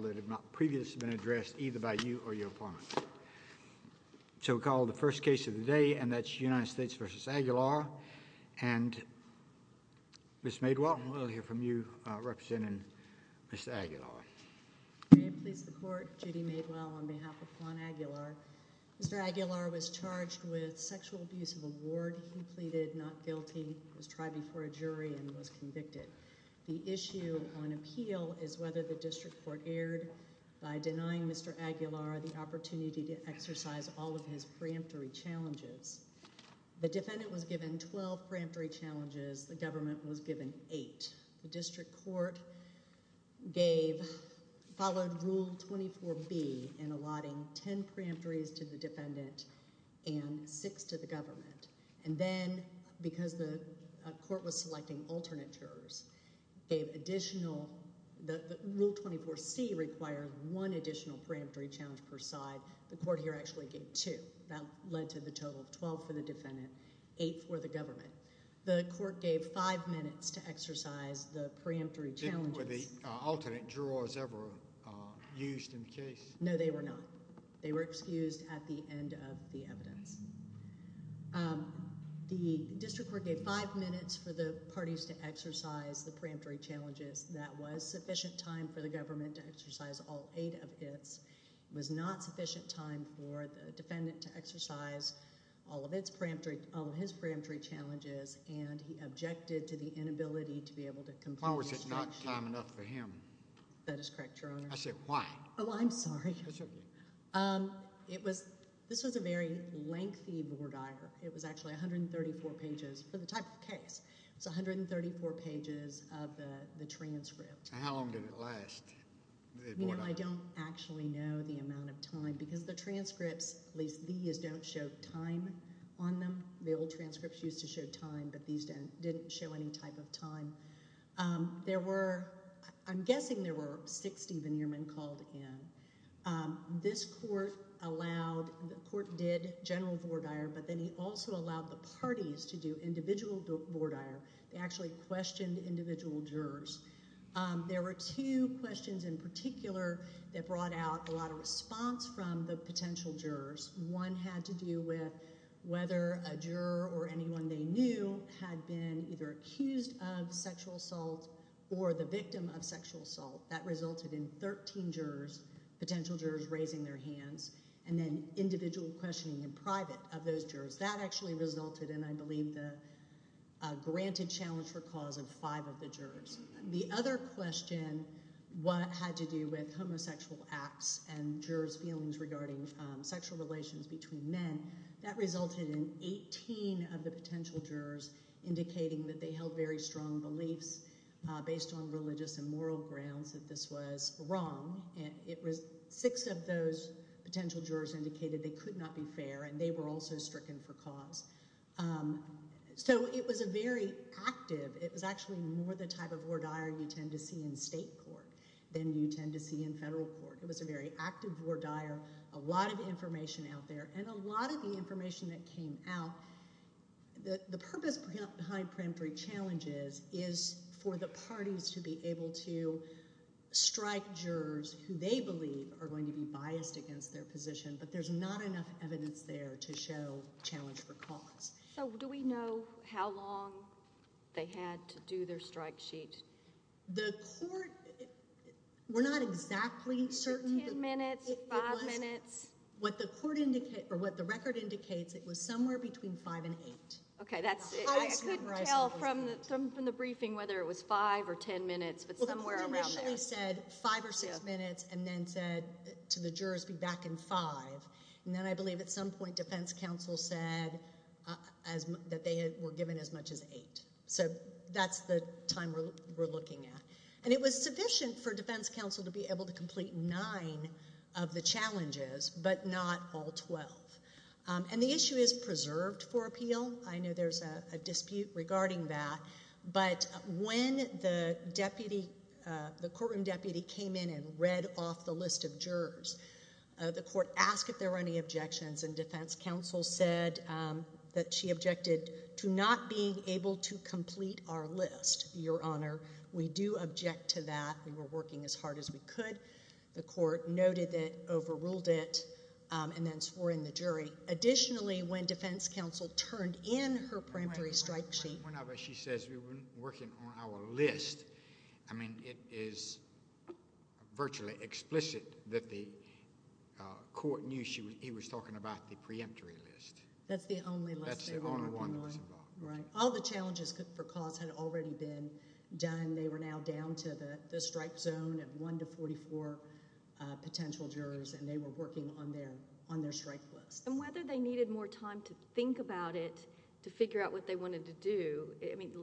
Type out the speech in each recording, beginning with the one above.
that have not previously been addressed either by you or your opponent. So we call the first case of the day and that's United States v. Aguilar and Ms. Madowell, we'll hear from you representing Mr. Aguilar. I'm Judy Madowell on behalf of Juan Aguilar. Mr. Aguilar was charged with sexual abuse of award. He pleaded not guilty. He was tried before a jury and was convicted. The issue on record by denying Mr. Aguilar the opportunity to exercise all of his preemptory challenges. The defendant was given 12 preemptory challenges. The government was given 8. The district court gave, followed rule 24B in allotting 10 preemptories to the defendant and 6 to the government. And then because the court was selecting alternate jurors, gave additional rule 24C required 1 additional preemptory challenge per side. The court here actually gave 2. That led to the total of 12 for the defendant, 8 for the government. The court gave 5 minutes to exercise the preemptory challenges. Were the alternate jurors ever used in the case? No, they were not. They were excused at the end of the evidence. The district court gave 5 minutes for the parties to exercise the preemptory challenges. That was sufficient time for the government to exercise all 8 of its. It was not sufficient time for the defendant to exercise all of its preemptory, all of his preemptory challenges and he objected to the inability to be able to complete his Why was it not time enough for him? That is correct, Your Honor. I said why? Oh, I'm sorry. It was, this was a very lengthy board hire. It was actually 134 pages for the type of case. It was 134 pages of the transcript. How long did it last? You know, I don't actually know the amount of time because the transcripts, at least these, don't show time on them. The old transcripts used to show time, but these didn't show any type of time. There were, I'm guessing there were 6 Steven Yearman called in. This court allowed, the court did general board hire, but then he also allowed the board hire. They actually questioned individual jurors. There were two questions in particular that brought out a lot of response from the potential jurors. One had to do with whether a juror or anyone they knew had been either accused of sexual assault or the victim of sexual assault. That resulted in 13 jurors, potential jurors, raising their hands and then individual questioning in private of those jurors. That actually resulted in, I believe, the granted challenge for cause of five of the jurors. The other question had to do with homosexual acts and jurors' feelings regarding sexual relations between men. That resulted in 18 of the potential jurors indicating that they held very strong beliefs based on religious and moral grounds that this was wrong. Six of those potential jurors indicated they could not be fair and they were also stricken for cause. It was a very active, it was actually more the type of board hire you tend to see in state court than you tend to see in federal court. It was a very active board hire, a lot of information out there, and a lot of the information that came out the purpose behind preemptory challenges is for the parties to be able to strike jurors who they believe are going to be biased against their position, but there's not enough evidence there to show challenge for cause. Do we know how long they had to do their strike sheet? The court, we're not exactly certain. Ten minutes? Five minutes? What the record indicates, it was somewhere between five and eight. I couldn't tell from the briefing whether it was five or ten minutes, but somewhere around there. The court initially said five or six minutes and then said to the jurors, be back in five. Then I believe at some point defense counsel said that they were given as much as eight. That's the time we're looking at. It was sufficient for defense counsel to be able to complete nine of the challenges, but not all twelve. The issue is preserved for appeal. I know there's a dispute regarding that, but when the courtroom deputy came in and read off the list of jurors, the court asked if there were any objections, and defense counsel said that she objected to not being able to complete our list, Your Honor. We do object to that. We were working as hard as we could. The court noted that, overruled it, and then swore in the jury. Additionally, when defense counsel turned in her peremptory strike sheet... One of us, she says, we were working on our list. It is virtually explicit that the court knew he was talking about the preemptory list. That's the only list they were working on. That's the only one that was involved. All the challenges for cause had already been done. They were now down to the strike zone of one to forty-four potential jurors and they were working on their strike list. Whether they needed more time to think about it, to figure out what they wanted to do,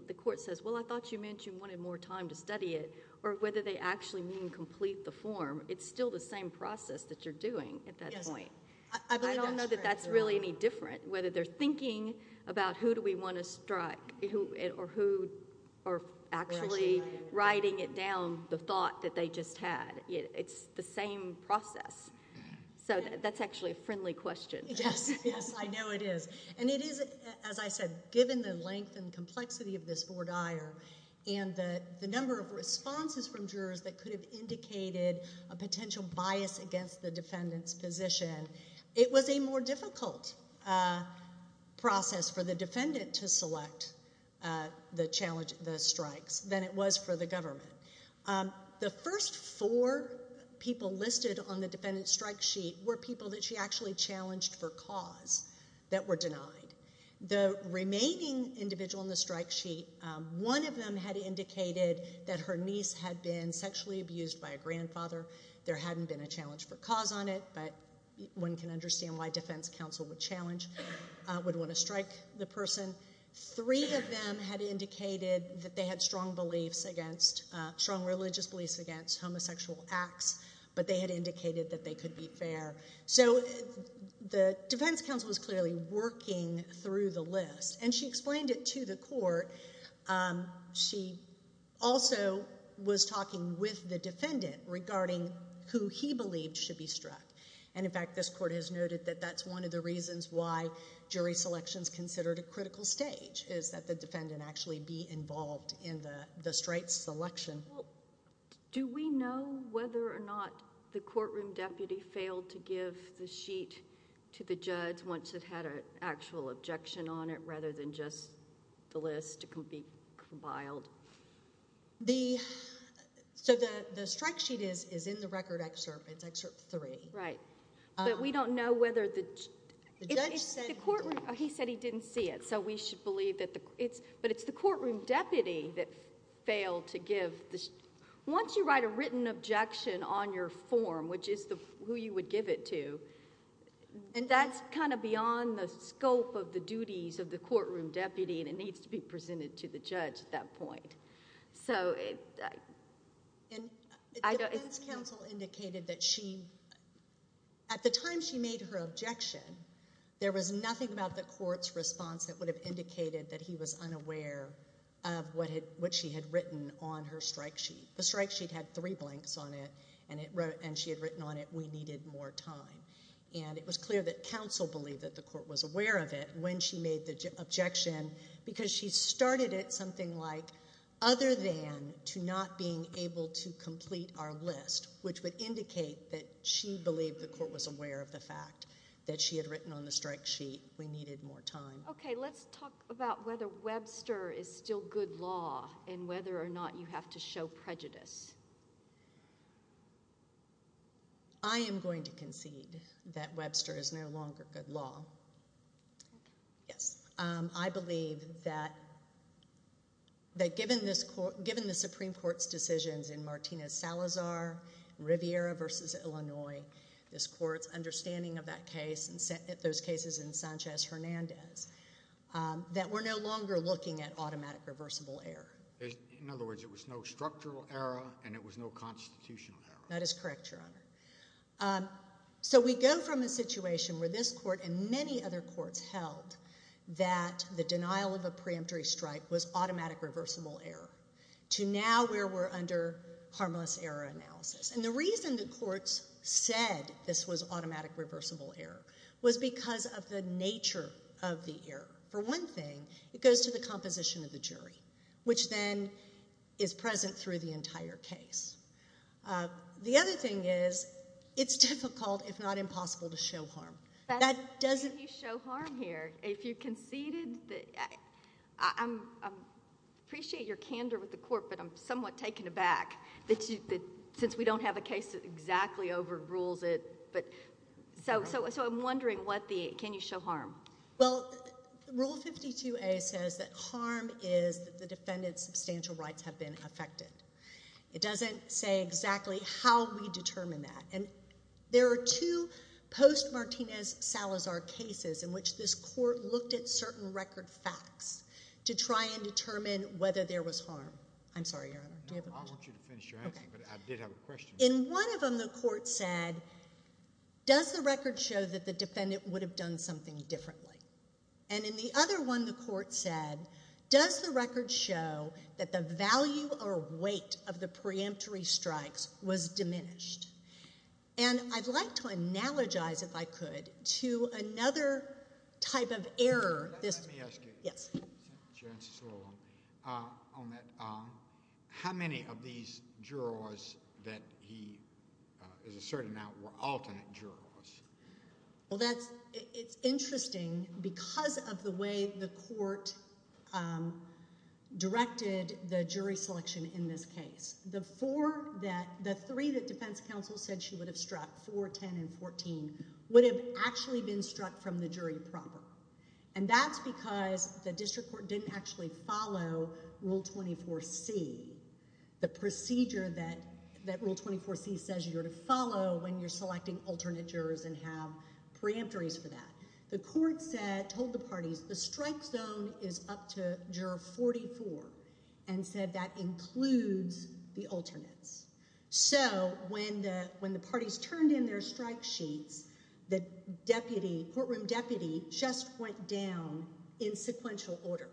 the court says, well, I thought you mentioned you wanted more time to study it, or whether they actually mean complete the form, it's still the same process that you're doing at that point. I don't know that that's really any different, whether they're thinking about who do we want to strike or who are actually writing it down, the thought that they just had. It's the same process. That's actually a friendly question. Yes, I know it is. It is, as I said, given the length and complexity of this four dire and the number of responses from jurors that could have indicated a potential bias against the defendant's position, it was a more difficult process for the defendant to select the strikes than it was for the government. The first four people listed on the defendant's strike sheet were people that she actually challenged for cause that were denied. The remaining individual on the strike sheet, one of them had indicated that her niece had been sexually abused by a grandfather. There hadn't been a challenge for cause on it, but one can understand why defense counsel would challenge or would want to strike the person. Three of them had indicated that they had strong religious beliefs against homosexual acts, but they had indicated that they could be fair. The defense counsel was clearly working through the list, and she explained it to the court. She also was talking with the defendant regarding who he believed should be struck. In fact, this court has noted that that's one of the reasons why jury selection is considered a critical stage, is that the defendant actually be involved in the strike selection. Do we know whether or not the courtroom deputy failed to give the sheet to the judge once it had an actual objection on it, rather than just the list compiled? The strike sheet is in the record excerpt. It's Excerpt 3. Right, but we don't know whether the judge said he didn't see it, so we should believe that it's the courtroom deputy that failed to give... Once you write a written objection on your form, which is who you would give it to, that's kind of beyond the scope of the duties of the courtroom deputy, and it needs to be presented to the judge at that point. The defense counsel indicated that at the time she made her objection, there was nothing about the court's response that would have indicated that he was unaware of what she had written on her strike sheet. The strike sheet had three blanks on it, and she had written on it, we needed more time. And it was clear that counsel believed that the court was aware of it when she made the objection, because she started it something like, other than to not being able to complete our list, which would indicate that she believed the court was aware of the fact that she had written on the strike sheet, we needed more time. Okay, let's talk about whether Webster is still good law, and whether or not you have to show prejudice. I am going to concede that Webster is no longer good law. I believe that given the Supreme Court's decisions in Martinez-Salazar, Riviera v. Illinois, this court's understanding of that case and those cases in Sanchez-Hernandez, that we're no longer looking at automatic reversible error. In other words, it was no structural error, and it was no constitutional error. That is correct, Your Honor. So we go from a situation where this court and many other courts held that the denial of a preemptory strike was automatic reversible error, to now where we're under harmless error analysis. And the reason the courts said this was automatic reversible error was because of the nature of the error. For one thing, it goes to the composition of the jury, which then is present through the entire case. The other thing is, it's difficult, if not impossible, to show harm. That doesn't... Can you show harm here? If you conceded the... I appreciate your candor with the court, but I'm somewhat taken aback that since we don't have a case that exactly overrules it. So I'm wondering what the... Can you show harm? Well, Rule 52A says that harm is that the defendant's substantial rights have been affected. It doesn't say exactly how we determine that. There are two post-Martinez-Salazar cases in which this court looked at certain record facts to try and determine whether there was harm. I'm sorry, Your Honor. Do you have a question? No, I want you to finish your answer, but I did have a question. In one of them, the court said, does the record show that the defendant would have done something differently? And in the other one, the court said, does the record show that the value or weight of the preemptory strikes was diminished? And I'd like to analogize, if I could, to another type of error... Let me ask you. Yes. How many of these jurors that he is asserting now were alternate jurors? Well, that's... It's interesting because of the way the court directed the jury selection in this case. The four that... the three that defense counsel said she would have struck, 4, 10, and 14, would have actually been struck from the jury proper. And that's because the district court didn't actually follow Rule 24C, the Rule 24C says you're to follow when you're selecting alternate jurors and have preemptories for that. The court said, told the parties, the strike zone is up to Juror 44, and said that includes the alternates. So, when the parties turned in their strike sheets, the deputy, courtroom deputy, just went down in sequential order,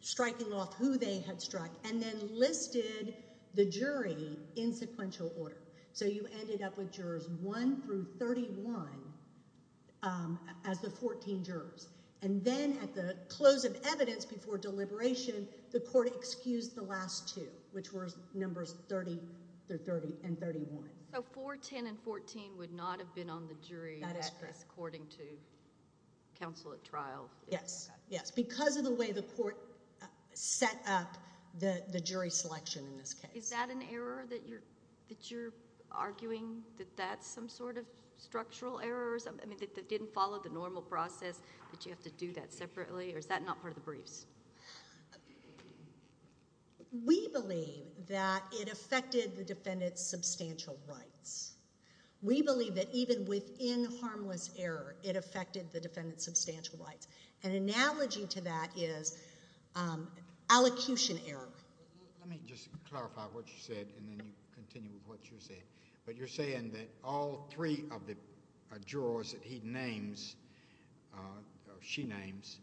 striking off who they had struck, and then listed the jury in sequential order. So, you ended up with jurors 1 through 31 as the 14 jurors. And then, at the close of evidence before deliberation, the court excused the last two, which were numbers 30 and 31. So, 4, 10, and 14 would not have been on the jury... That is correct... according to counsel at trial? Yes. Yes. Because of the way the court set up the jury selection in this case. Is that an error that you're arguing, that that's some sort of structural error or something that didn't follow the normal process, that you have to do that separately, or is that not part of the briefs? We believe that it affected the defendant's substantial rights. We believe that even within harmless error, it affected the defendant's substantial rights. An analogy to that is allocution error. Let me just clarify what you said, and then you continue with what you said. But, you're saying that all three of the jurors that he names, or she names,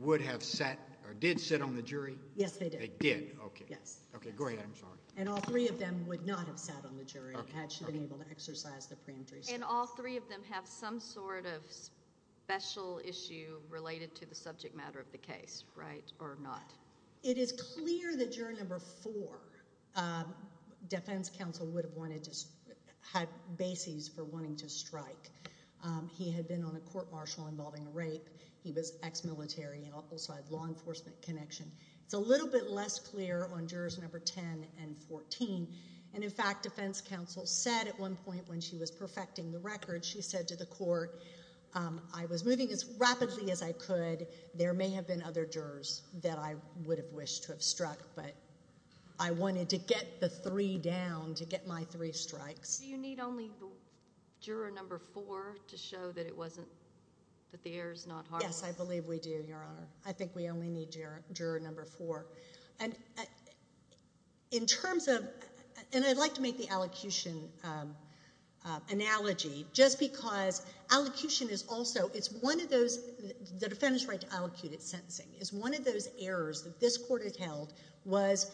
would have sat, or did sit on the jury? Yes, they did. They did? Okay. Yes. Okay, go ahead. I'm sorry. And all three of them would not have sat on the jury had she been able to exercise the preemptory statute. And all three of them have some sort of special issue related to the subject matter of the case, right, or not? It is clear that juror number four, defense counsel, would have wanted to have bases for wanting to strike. He had been on a court martial involving rape. He was ex-military and also had law enforcement connection. It's a little bit less clear on jurors number 10 and 14. And, in fact, defense counsel said at one point when she was perfecting the record, she said to the court, I was moving as rapidly as I could. There may have been other jurors that I would have wished to have struck, but I wanted to get the three down to get my three strikes. Do you need only juror number four to show that it wasn't, that the error's not harmful? Yes, I believe we do, Your Honor. I think we only need juror number four. And, in terms of, and I'd like to make the allocution analogy, just because allocution is also, it's one of those, the defendant's right to allocate at sentencing is one of those errors that this court has held was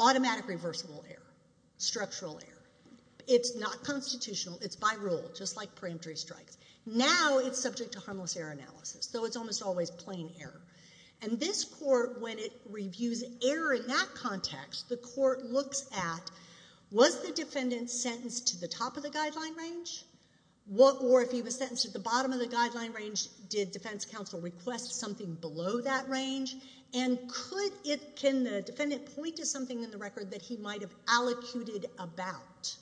automatic reversible error, structural error. It's not constitutional. It's by rule, just like preemptory strikes. Now, it's subject to harmless error analysis, though it's almost always plain error. And this court, when it reviews error in that context, the court looks at was the defendant sentenced to the top of the guideline range? Or, if he was sentenced to the bottom of the guideline range, did defense counsel request something below that range? And could it, can the defendant point to something in the record that he might have allocated about?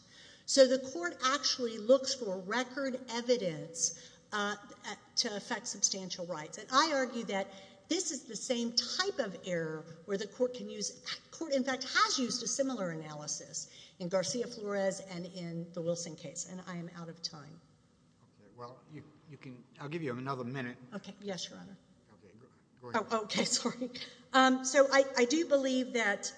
So the court actually looks for record evidence to affect substantial rights. And I argue that this is the same type of error where the court can use, the court in fact has used a similar analysis in Garcia-Flores and in the Wilson case. And I am out of time. I'll give you another minute. Yes, Your Honor. So, I do believe that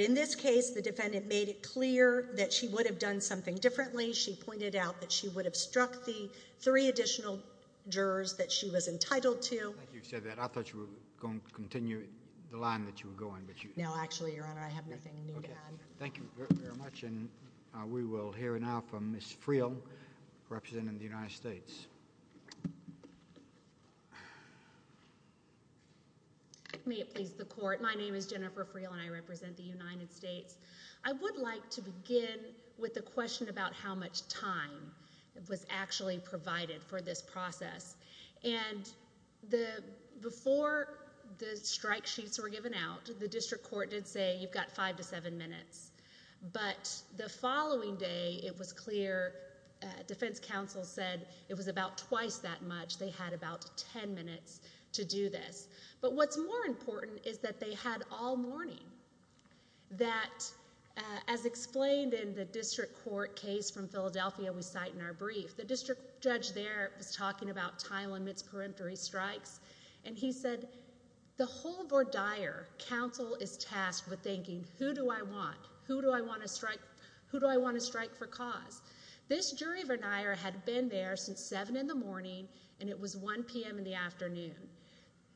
in this case, the defendant made it clear that she would have done something differently. She pointed out that she would have struck the three additional jurors that she was entitled to. Thank you for saying that. I thought you were going to continue the line that you were going. No, actually, Your Honor, I have nothing new to add. We will hear now from Ms. Friel, representing the United States. May it please the court. My name is Jennifer Friel and I represent the United States. I would like to begin with the question about how much time was actually provided for this process. And before the strike sheets were given out, the district court did say you've got five to seven minutes. But the following day, it was clear defense counsel said it was about twice that much. They had about ten minutes to do this. But what's more important is that they had all morning. That, as explained in the district court case from Philadelphia, we cite in our brief, the district judge there was talking about time limits, peremptory strikes, and he said, the hold or dire counsel is tasked with thinking, who do I want? Who do I want to strike for cause? This jury had been there since 7 in the morning and it was 1 p.m. in the afternoon.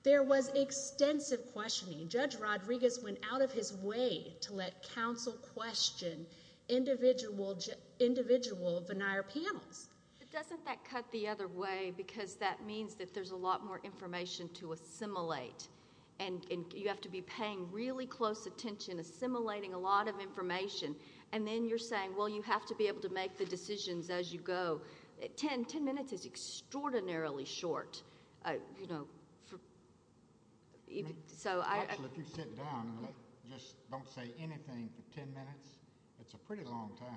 There was extensive questioning. Judge Rodriguez went out of his way to let counsel question individual venire panels. Doesn't that cut the other way because that means that there's a lot more information to assimilate and you have to be paying really close attention, assimilating a lot of information and then you're saying, well, you have to be able to make the decisions as you go. Ten minutes is extraordinarily short. If you sit down and just don't say anything for ten minutes, it's a pretty long time.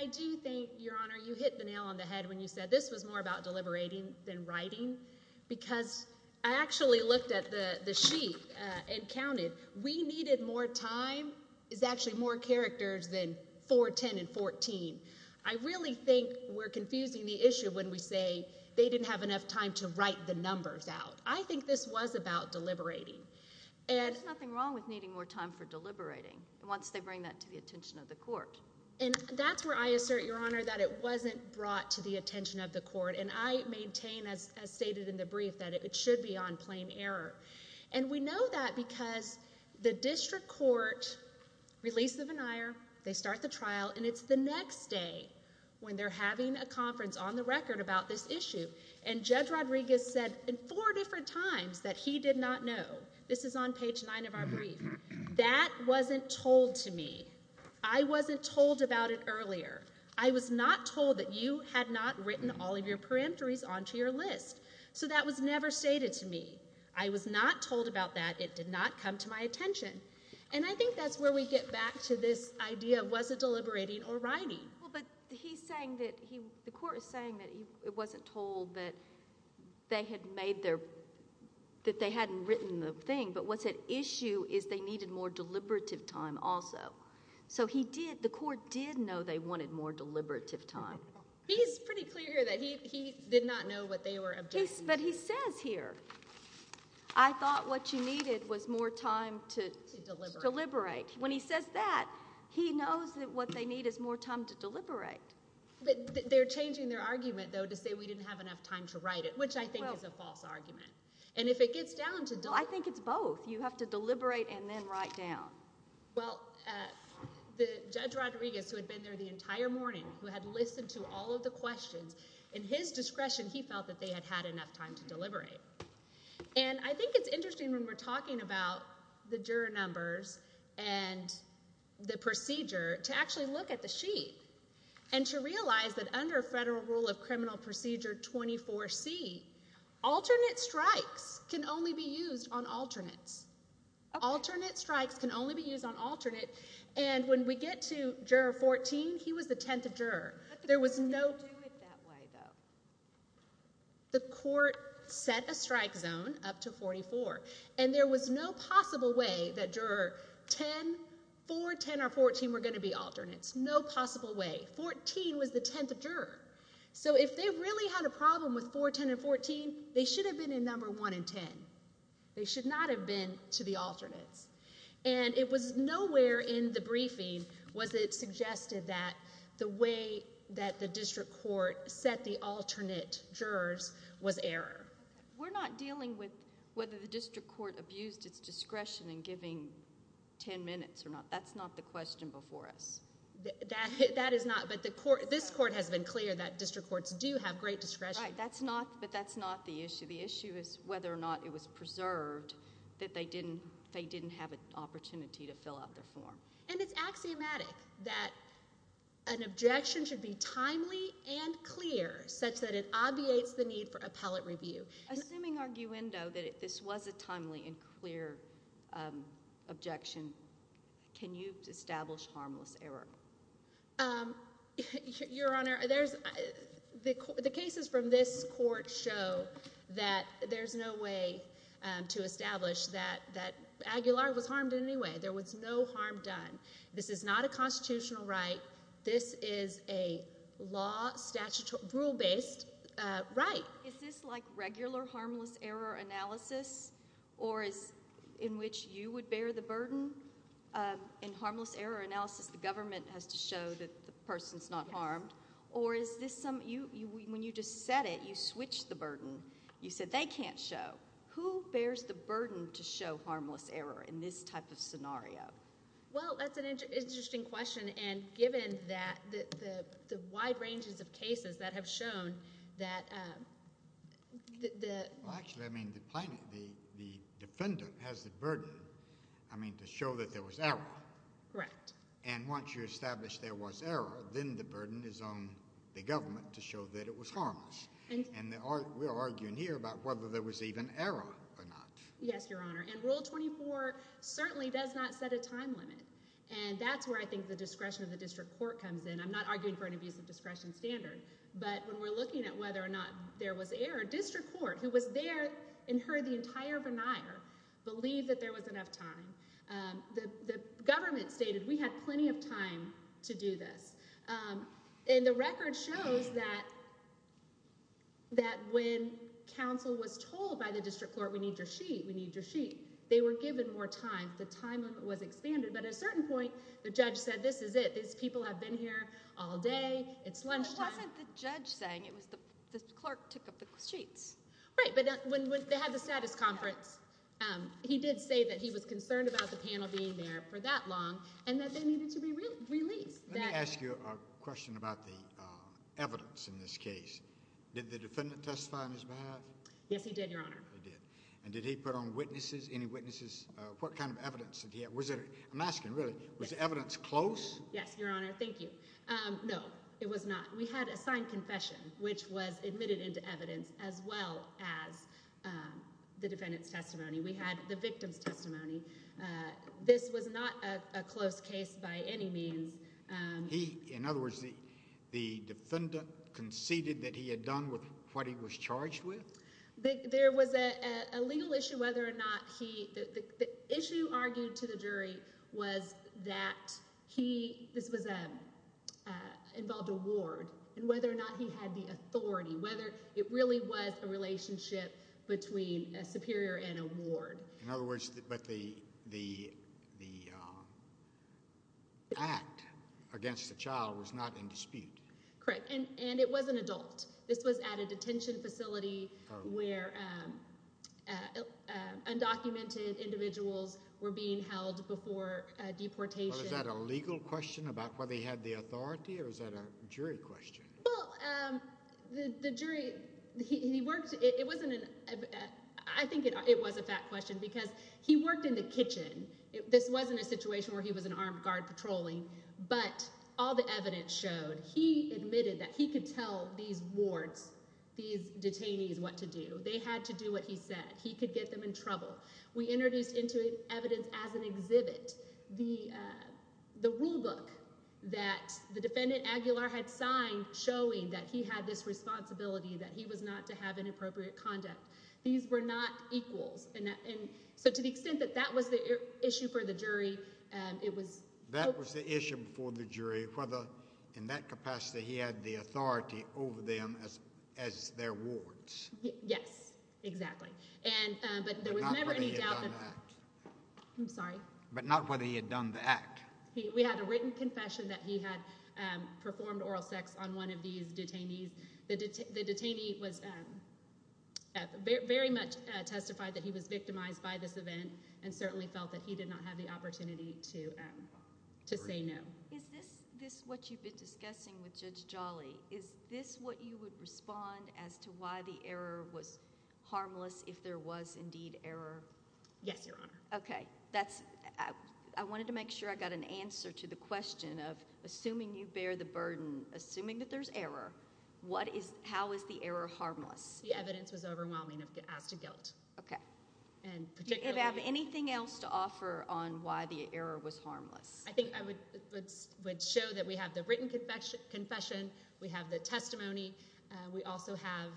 I do think, Your Honor, you hit the nail on the head when you said this was more about deliberating than writing because I actually looked at the sheet and counted. We needed more time is actually more characters than 4, 10, and 14. I really think we're confusing the issue when we say they didn't have enough time to write the numbers out. I think this was about deliberating. There's nothing wrong with needing more time for deliberating once they bring that to the attention of the court. That's where I assert, Your Honor, that it wasn't brought to the attention of the court. I maintain, as stated in the brief, that it should be on plain error. We know that because the district court released the venire, they start the trial, and it's the next day when they're having a conference on the record about this issue. Judge Rodriguez said in four different times that he did not know. This is on page nine of our brief. That wasn't told to me. I wasn't told about it earlier. I was not told that you had not written all of your peremptories onto your list. That was never stated to me. I was not told about that. It did not come to my attention. I think that's where we get back to this idea, was it deliberating or writing? The court is saying that it wasn't told that they hadn't written the thing, but what's at issue is they needed more deliberative time also. The court did know they wanted more deliberative time. He's pretty clear here that he did not know what they were objecting to. But he says here, I thought what you needed was more time to deliberate. When he says that, he knows that what they need is more time to deliberate. They're changing their argument, though, to say we didn't have enough time to write it, which I think is a false argument. I think it's both. You have to deliberate and then write down. Well, Judge Rodriguez, who had been there the entire morning, who had listened to all of the questions, in his discretion, he felt that they had had enough time to deliberate. I think it's interesting when we're talking about the juror numbers and the procedure, to actually look at the sheet and to realize that under federal rule of criminal procedure 24C, alternate strikes can only be used on alternates. Alternate strikes can only be used on alternate. And when we get to Juror 14, he was the 10th juror. The court set a strike zone up to 44. And there was no possible way that 4, 10, or 14 were going to be alternates. No possible way. 14 was the 10th juror. So if they really had a problem with 4, 10, and 14, they should have been in number 1 and 10. They should not have been to the alternates. And it was nowhere in the briefing was it suggested that the way that the district court set the alternate jurors was error. We're not dealing with whether the district court abused its discretion in giving 10 minutes or not. That's not the question before us. That is not. But this court has been clear that district courts do have great discretion. Right. But that's not the issue. The issue is whether or not it was preserved that they didn't have an opportunity to fill out their form. And it's axiomatic that an objection should be timely and clear such that it obviates the need for appellate review. Assuming arguendo that this was a timely and clear objection, can you establish harmless error? Your Honor, there's the cases from this court show that there's no way to establish that Aguilar was harmed in any way. There was no harm done. This is not a constitutional right. This is a law, statute, rule-based right. Is this like regular harmless error analysis or is in which you would bear the burden in harmless error analysis the government has to show that the person's not harmed? Or is this some, when you just said it, you switched the burden. You said they can't show. Who bears the burden to show harmless error in this type of scenario? Well, that's an interesting question. And given that the wide ranges of cases that have shown that the defendant has the burden to show that there was error. Correct. And once you establish there was error, then the burden is on the government to show that it was harmless. And we're arguing here about whether there was even error or not. Yes, Your Honor. And Rule 24 certainly does not set a time limit. And that's where I think the discretion of the district court comes in. I'm not arguing for an abuse of discretion standard. But when we're looking at whether or not there was error, district court, who was there and heard the entire time? The government stated we had plenty of time to do this. And the record shows that when counsel was told by the district court, we need your sheet, we need your sheet, they were given more time. The time limit was expanded. But at a certain point, the judge said, this is it. These people have been here all day. It's lunchtime. It wasn't the judge saying. It was the clerk took up the sheets. Right. But when they had the status conference, he did say that he was concerned about the panel being there for that long and that they needed to be released. Let me ask you a question about the evidence in this case. Did the defendant testify on his behalf? Yes, he did, Your Honor. He did. And did he put on witnesses, any witnesses? What kind of evidence did he have? I'm asking, really, was the evidence close? Yes, Your Honor. Thank you. No, it was not. We had a signed confession, which was admitted into evidence as well as the defendant's testimony. We had the victim's testimony. This was not a close case by any means. In other words, the defendant conceded that he had done with what he was charged with? There was a legal issue whether or not he, the issue argued to the jury was that he, this was involved a ward, and whether or not he had the authority, whether it really was a relationship between a superior and a ward. In other words, but the act against the child was not in dispute. Correct. And it was an adult. This was at a detention facility where undocumented individuals were being held before deportation. Well, is that a legal question about whether he had the authority, or is that a jury question? Well, the jury, he worked, it wasn't, I think it was a fact question, because he worked in the kitchen. This wasn't a situation where he was an armed guard patrolling, but all the evidence showed, he admitted that he could tell these wards, these detainees, what to do. They had to do what he said. He could get them in trouble. We introduced into evidence as an exhibit the rule book that the defendant Aguilar had signed showing that he had this responsibility that he was not to have inappropriate conduct. These were not equals. So to the extent that that was the issue for the jury, it was That was the issue for the jury, whether in that capacity he had the authority over them as their wards. Yes, exactly. But there was never any doubt But not whether he had done the act. We had a written confession that he had performed oral sex on one of these detainees. The detainee was very much testified that he was victimized by this event and certainly felt that he did not have the opportunity to say no. Is this what you've been discussing with Judge Jolly? Is this what you would respond as to why the error was harmless if there was indeed error? Yes, Your Honor. I wanted to make sure I got an answer to the question of assuming you bear the burden, assuming that there's error how is the error harmless? The evidence was overwhelming as to guilt. Do you have anything else to offer on why the error was harmless? I think I would show that we have the written confession. We have the testimony. We also have,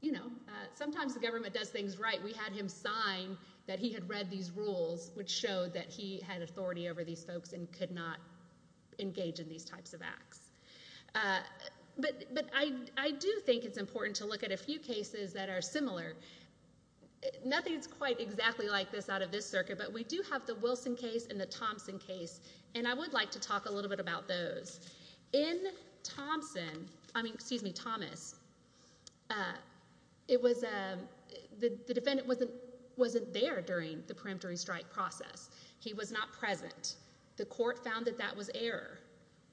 you know, sometimes the government does things right. We had him sign that he had read these rules, which showed that he had authority over these folks and could not engage in these types of acts. But I do think it's important to look at a few cases that are similar. Nothing is quite exactly like this out of this circuit, but we do have the Wilson case and the Thompson case and I would like to talk a little bit about those. In Thompson I mean, excuse me, Thomas, it was the defendant wasn't there during the preemptory strike process. He was not present. The court found that that was error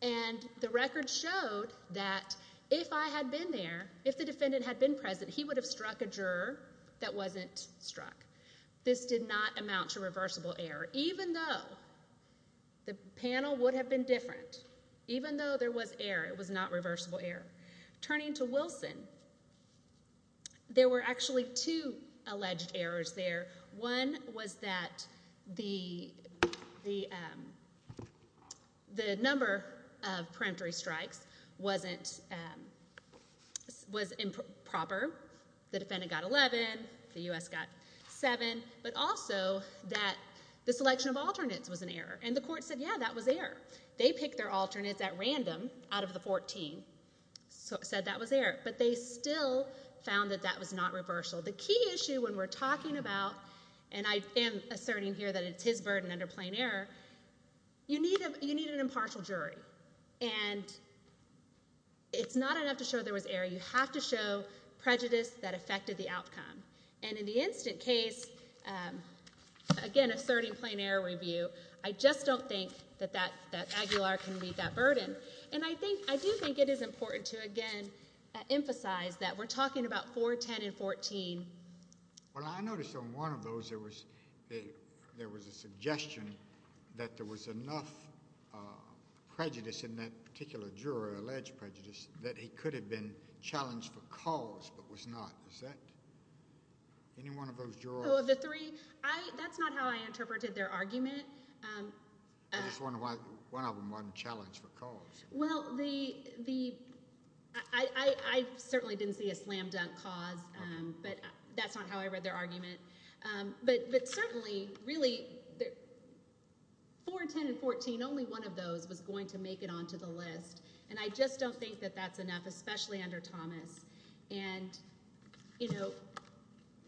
and the record showed that if I had been there, if the defendant had been present, he would have struck a juror that wasn't struck. This did not amount to reversible error even though the panel would have been different. Even though there was error, it was not reversible error. Turning to Wilson there were actually two alleged errors there. One was that the number of preemptory strikes was improper. The defendant got 11, the U.S. got 7, but also that the selection of alternates was an error and the court said, yeah, that was error. They picked their alternates at random out of the 14 and said that was error, but they still found that that was not reversal. The key issue when we're talking about, and I am asserting here that it's his burden under plain error, you need an impartial jury and it's not enough to show there was error. You have to show prejudice that affected the outcome and in the instant case, again asserting plain error review, I just don't think that Aguilar can meet that standard. It is important to, again, emphasize that we're talking about 4, 10, and 14. Well, I noticed on one of those there was a suggestion that there was enough prejudice in that particular juror, alleged prejudice, that he could have been challenged for cause but was not. Any one of those jurors? Oh, of the three? That's not how I interpreted their argument. I just wonder why one of them wasn't challenged for cause. I certainly didn't see a slam dunk cause but that's not how I read their argument. But certainly really, 4, 10, and 14, only one of those was going to make it onto the list and I just don't think that that's enough, especially under Thomas.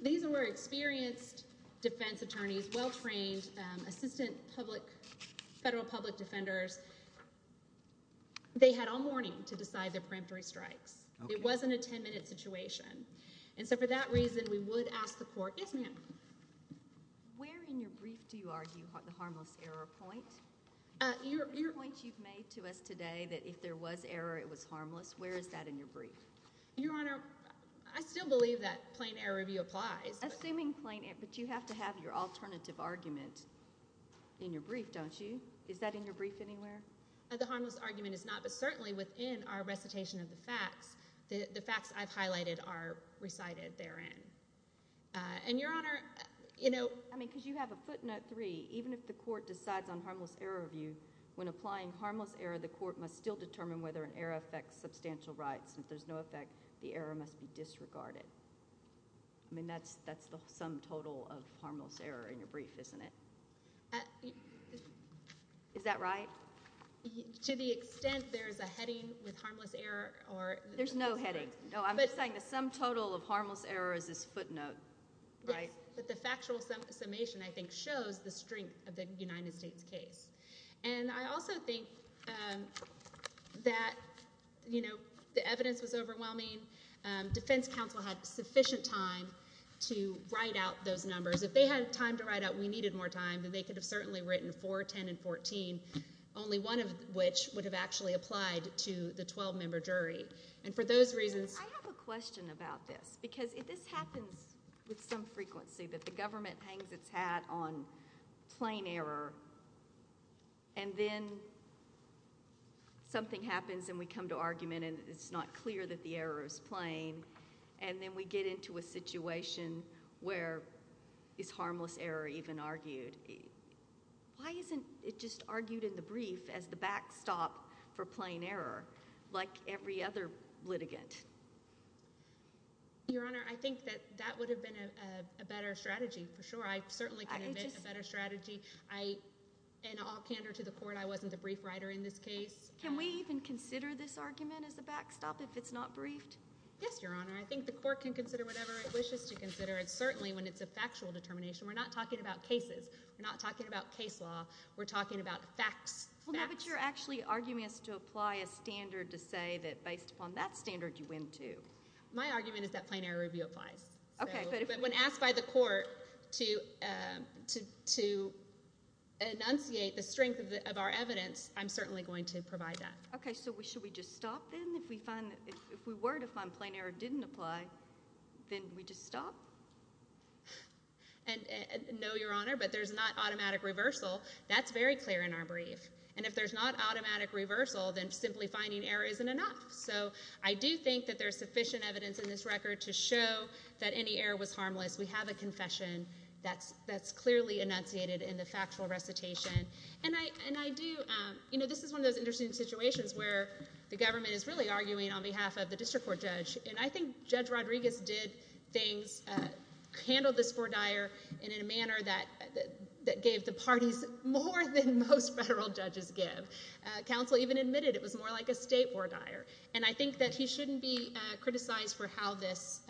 These were experienced defense attorneys, well-trained assistant federal public defenders. They had all morning to decide their peremptory strikes. It wasn't a 10-minute situation. And so for that reason, we would ask the court, yes ma'am? Where in your brief do you argue the harmless error point? The point you've made to us today that if there was error, it was harmless, where is that in your brief? Your Honor, I still believe that plain error review applies. Assuming plain error, but you have to have your alternative argument in your brief anywhere? The harmless argument is not, but certainly within our recitation of the facts, the facts I've highlighted are recited therein. And Your Honor, you know... I mean, because you have a footnote 3, even if the court decides on harmless error review, when applying harmless error, the court must still determine whether an error affects substantial rights. If there's no effect, the error must be disregarded. I mean, that's the sum total of harmless error in your brief, isn't it? Is that right? To the extent there's a heading with harmless error... There's no heading. No, I'm saying the sum total of harmless error is this footnote, right? But the factual summation, I think, shows the strength of the United States case. And I also think that the evidence was overwhelming. Defense counsel had sufficient time to write out those numbers. If they had time to write out, we needed more time, then they could have certainly written 4, 10, and 14, only one of which would have actually applied to the 12-member jury. And for those reasons... I have a question about this, because this happens with some frequency, that the government hangs its hat on plain error, and then something happens, and we come to argument, and it's not clear that the error is plain, and then we get into a situation where is harmless error even argued? Why isn't it just argued in the brief as the backstop for plain error, like every other litigant? Your Honor, I think that that would have been a better strategy, for sure. I certainly can invent a better strategy. In all candor to the Court, I wasn't the brief writer in this case. Can we even consider this argument as a backstop if it's not briefed? Yes, Your Honor. I think the Court can consider whatever it wishes to consider, and certainly when it's a factual determination. We're not talking about cases. We're not talking about case law. We're talking about facts. But you're actually arguing as to apply a standard to say that based upon that standard, you win, too. My argument is that plain error review applies. But when asked by the Court to enunciate the strength of our evidence, I'm certainly going to provide that. Okay, so should we just stop, then? If we were to find plain error didn't apply, then we just stop? No, Your Honor, but there's not automatic reversal. That's very clear in our brief. And if there's not automatic reversal, then simply finding error isn't enough. So I do think that there's sufficient evidence in this record to show that any error was harmless. We have a confession that's clearly enunciated in the factual recitation. And I do, you know, this is one of those interesting situations where the government is really arguing on behalf of the district court judge. And I think Judge Rodriguez did things, handled this vordire in a manner that gave the parties more than most federal judges give. Counsel even admitted it was more like a state vordire. And I think that he shouldn't be criticized for how this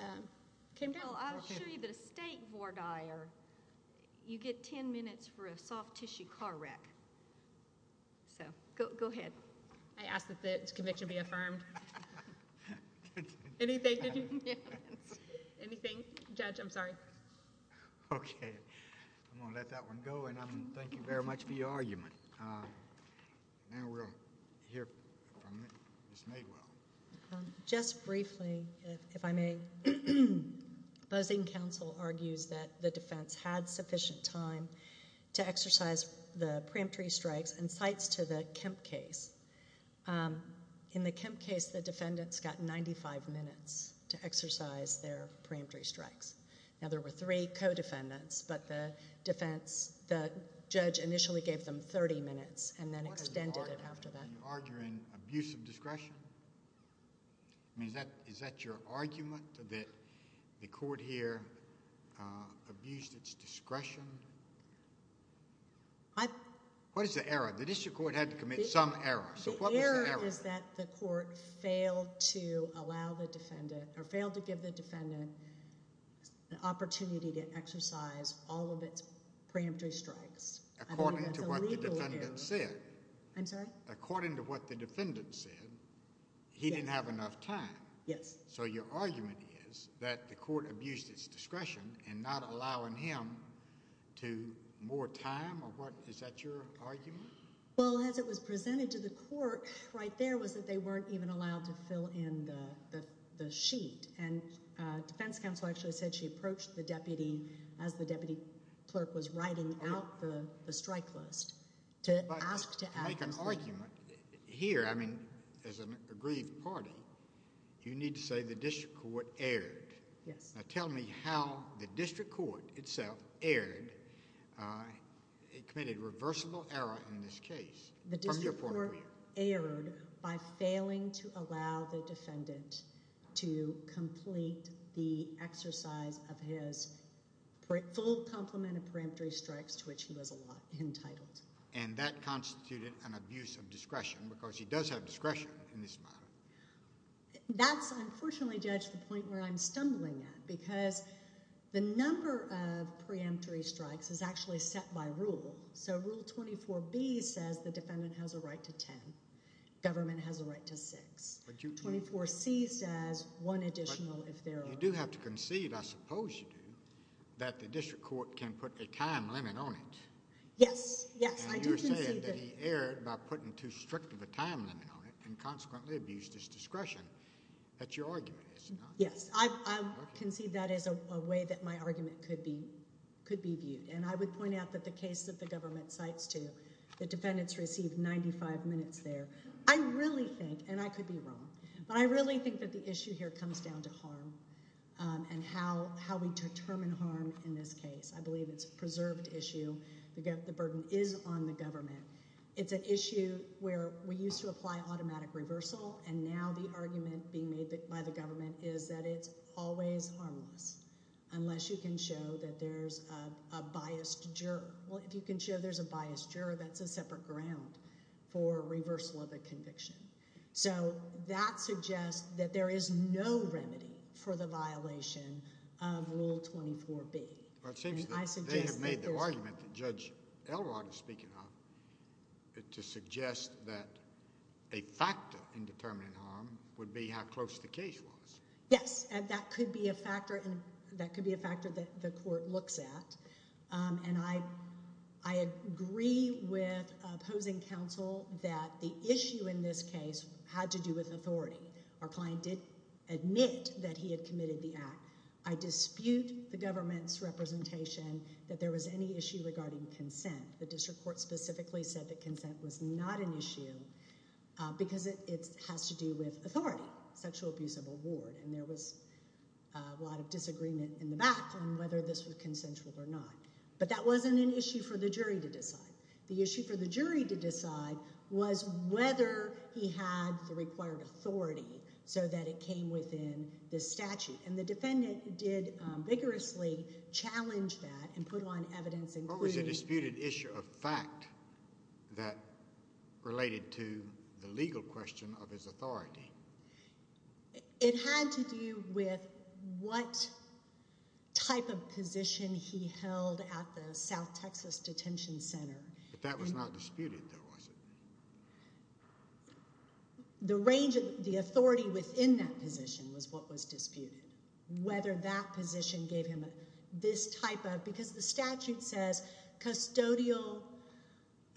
came down. Well, I'll show you that a state vordire, you get ten minutes for a soft tissue car wreck. So, go ahead. I ask that the conviction be affirmed. Anything? Judge, I'm sorry. Okay. I'm going to let that one go. And thank you very much for your argument. Now we'll hear from Ms. Madewell. Just briefly, if I may, buzzing counsel argues that the defense had sufficient time to exercise the preemptory strikes and cites to the Kemp case. In the Kemp case, the defendants got 95 minutes to exercise their preemptory strikes. Now there were three co-defendants, but the defense, the judge initially gave them 30 minutes and then extended it after that. Are you arguing abuse of discretion? I mean, is that your argument, that the court here abused its discretion? What is the error? The district court had to commit some error. The error is that the court failed to allow the defendant, or failed to give the defendant the opportunity to exercise all of its preemptory strikes. According to what the defendant said. I'm sorry? According to what the defendant said, he didn't have enough time. Yes. So your argument is that the court abused its discretion in not allowing him more time? Is that your argument? Well, as it was presented to the court, right there was that they weren't even allowed to fill in the sheet. And defense counsel actually said she approached the deputy as the deputy clerk was writing out the strike list. To make an argument here, I mean, as an aggrieved party, you need to say the district court erred. Yes. Now tell me how the district court itself erred. It committed reversible error in this case. The district court erred by failing to allow the defendant to complete the exercise of his full complement of preemptory strikes to which he was entitled. And that constituted an abuse of discretion because he does have discretion in this matter. That's, unfortunately, Judge, the point where I'm stumbling at because the number of preemptory strikes is actually set by rule. So Rule 24B says the defendant has a right to 10. Government has a right to 6. 24C says one additional if there are. You do have to concede, I suppose you do, that the district court can put a time limit on it. Yes, yes. And you're saying that he erred by putting too strict of a use of discretion. That's your argument. Yes. I concede that is a way that my argument could be viewed. And I would point out that the case that the government cites to, the defendants received 95 minutes there. I really think, and I could be wrong, but I really think that the issue here comes down to harm and how we determine harm in this case. I believe it's a preserved issue. The burden is on the government. It's an issue where we used to apply automatic reversal, and now the argument being made by the government is that it's always harmless unless you can show that there's a biased juror. Well, if you can show there's a biased juror, that's a separate ground for reversal of a conviction. So that suggests that there is no remedy for the violation of Rule 24B. They have made the argument that Judge Elrod is speaking on to suggest that a factor in determining harm would be how close the case was. Yes, and that could be a factor that the court looks at. And I agree with opposing counsel that the issue in this case had to do with authority. Our client did admit that he had committed the act. I dispute the government's representation that there was any issue regarding consent. The district court specifically said that consent was not an issue because it has to do with authority, sexual abuse of award. And there was a lot of disagreement in the back on whether this was consensual or not. But that wasn't an issue for the jury to decide. The issue for the jury to decide was whether he had the required authority so that it came within this statute. And the defendant did vigorously challenge that and put on evidence. What was the disputed issue of fact that related to the legal question of his authority? It had to do with what type of position he held at the South Texas Detention Center. But that was not disputed, though, was it? The range of the authority within that position was what was disputed. Whether that position gave him this type of—because the statute says custodial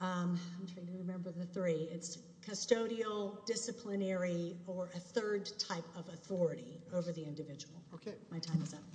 I'm trying to remember the three. It's custodial, disciplinary, or a third type of authority over the individual. My time is up.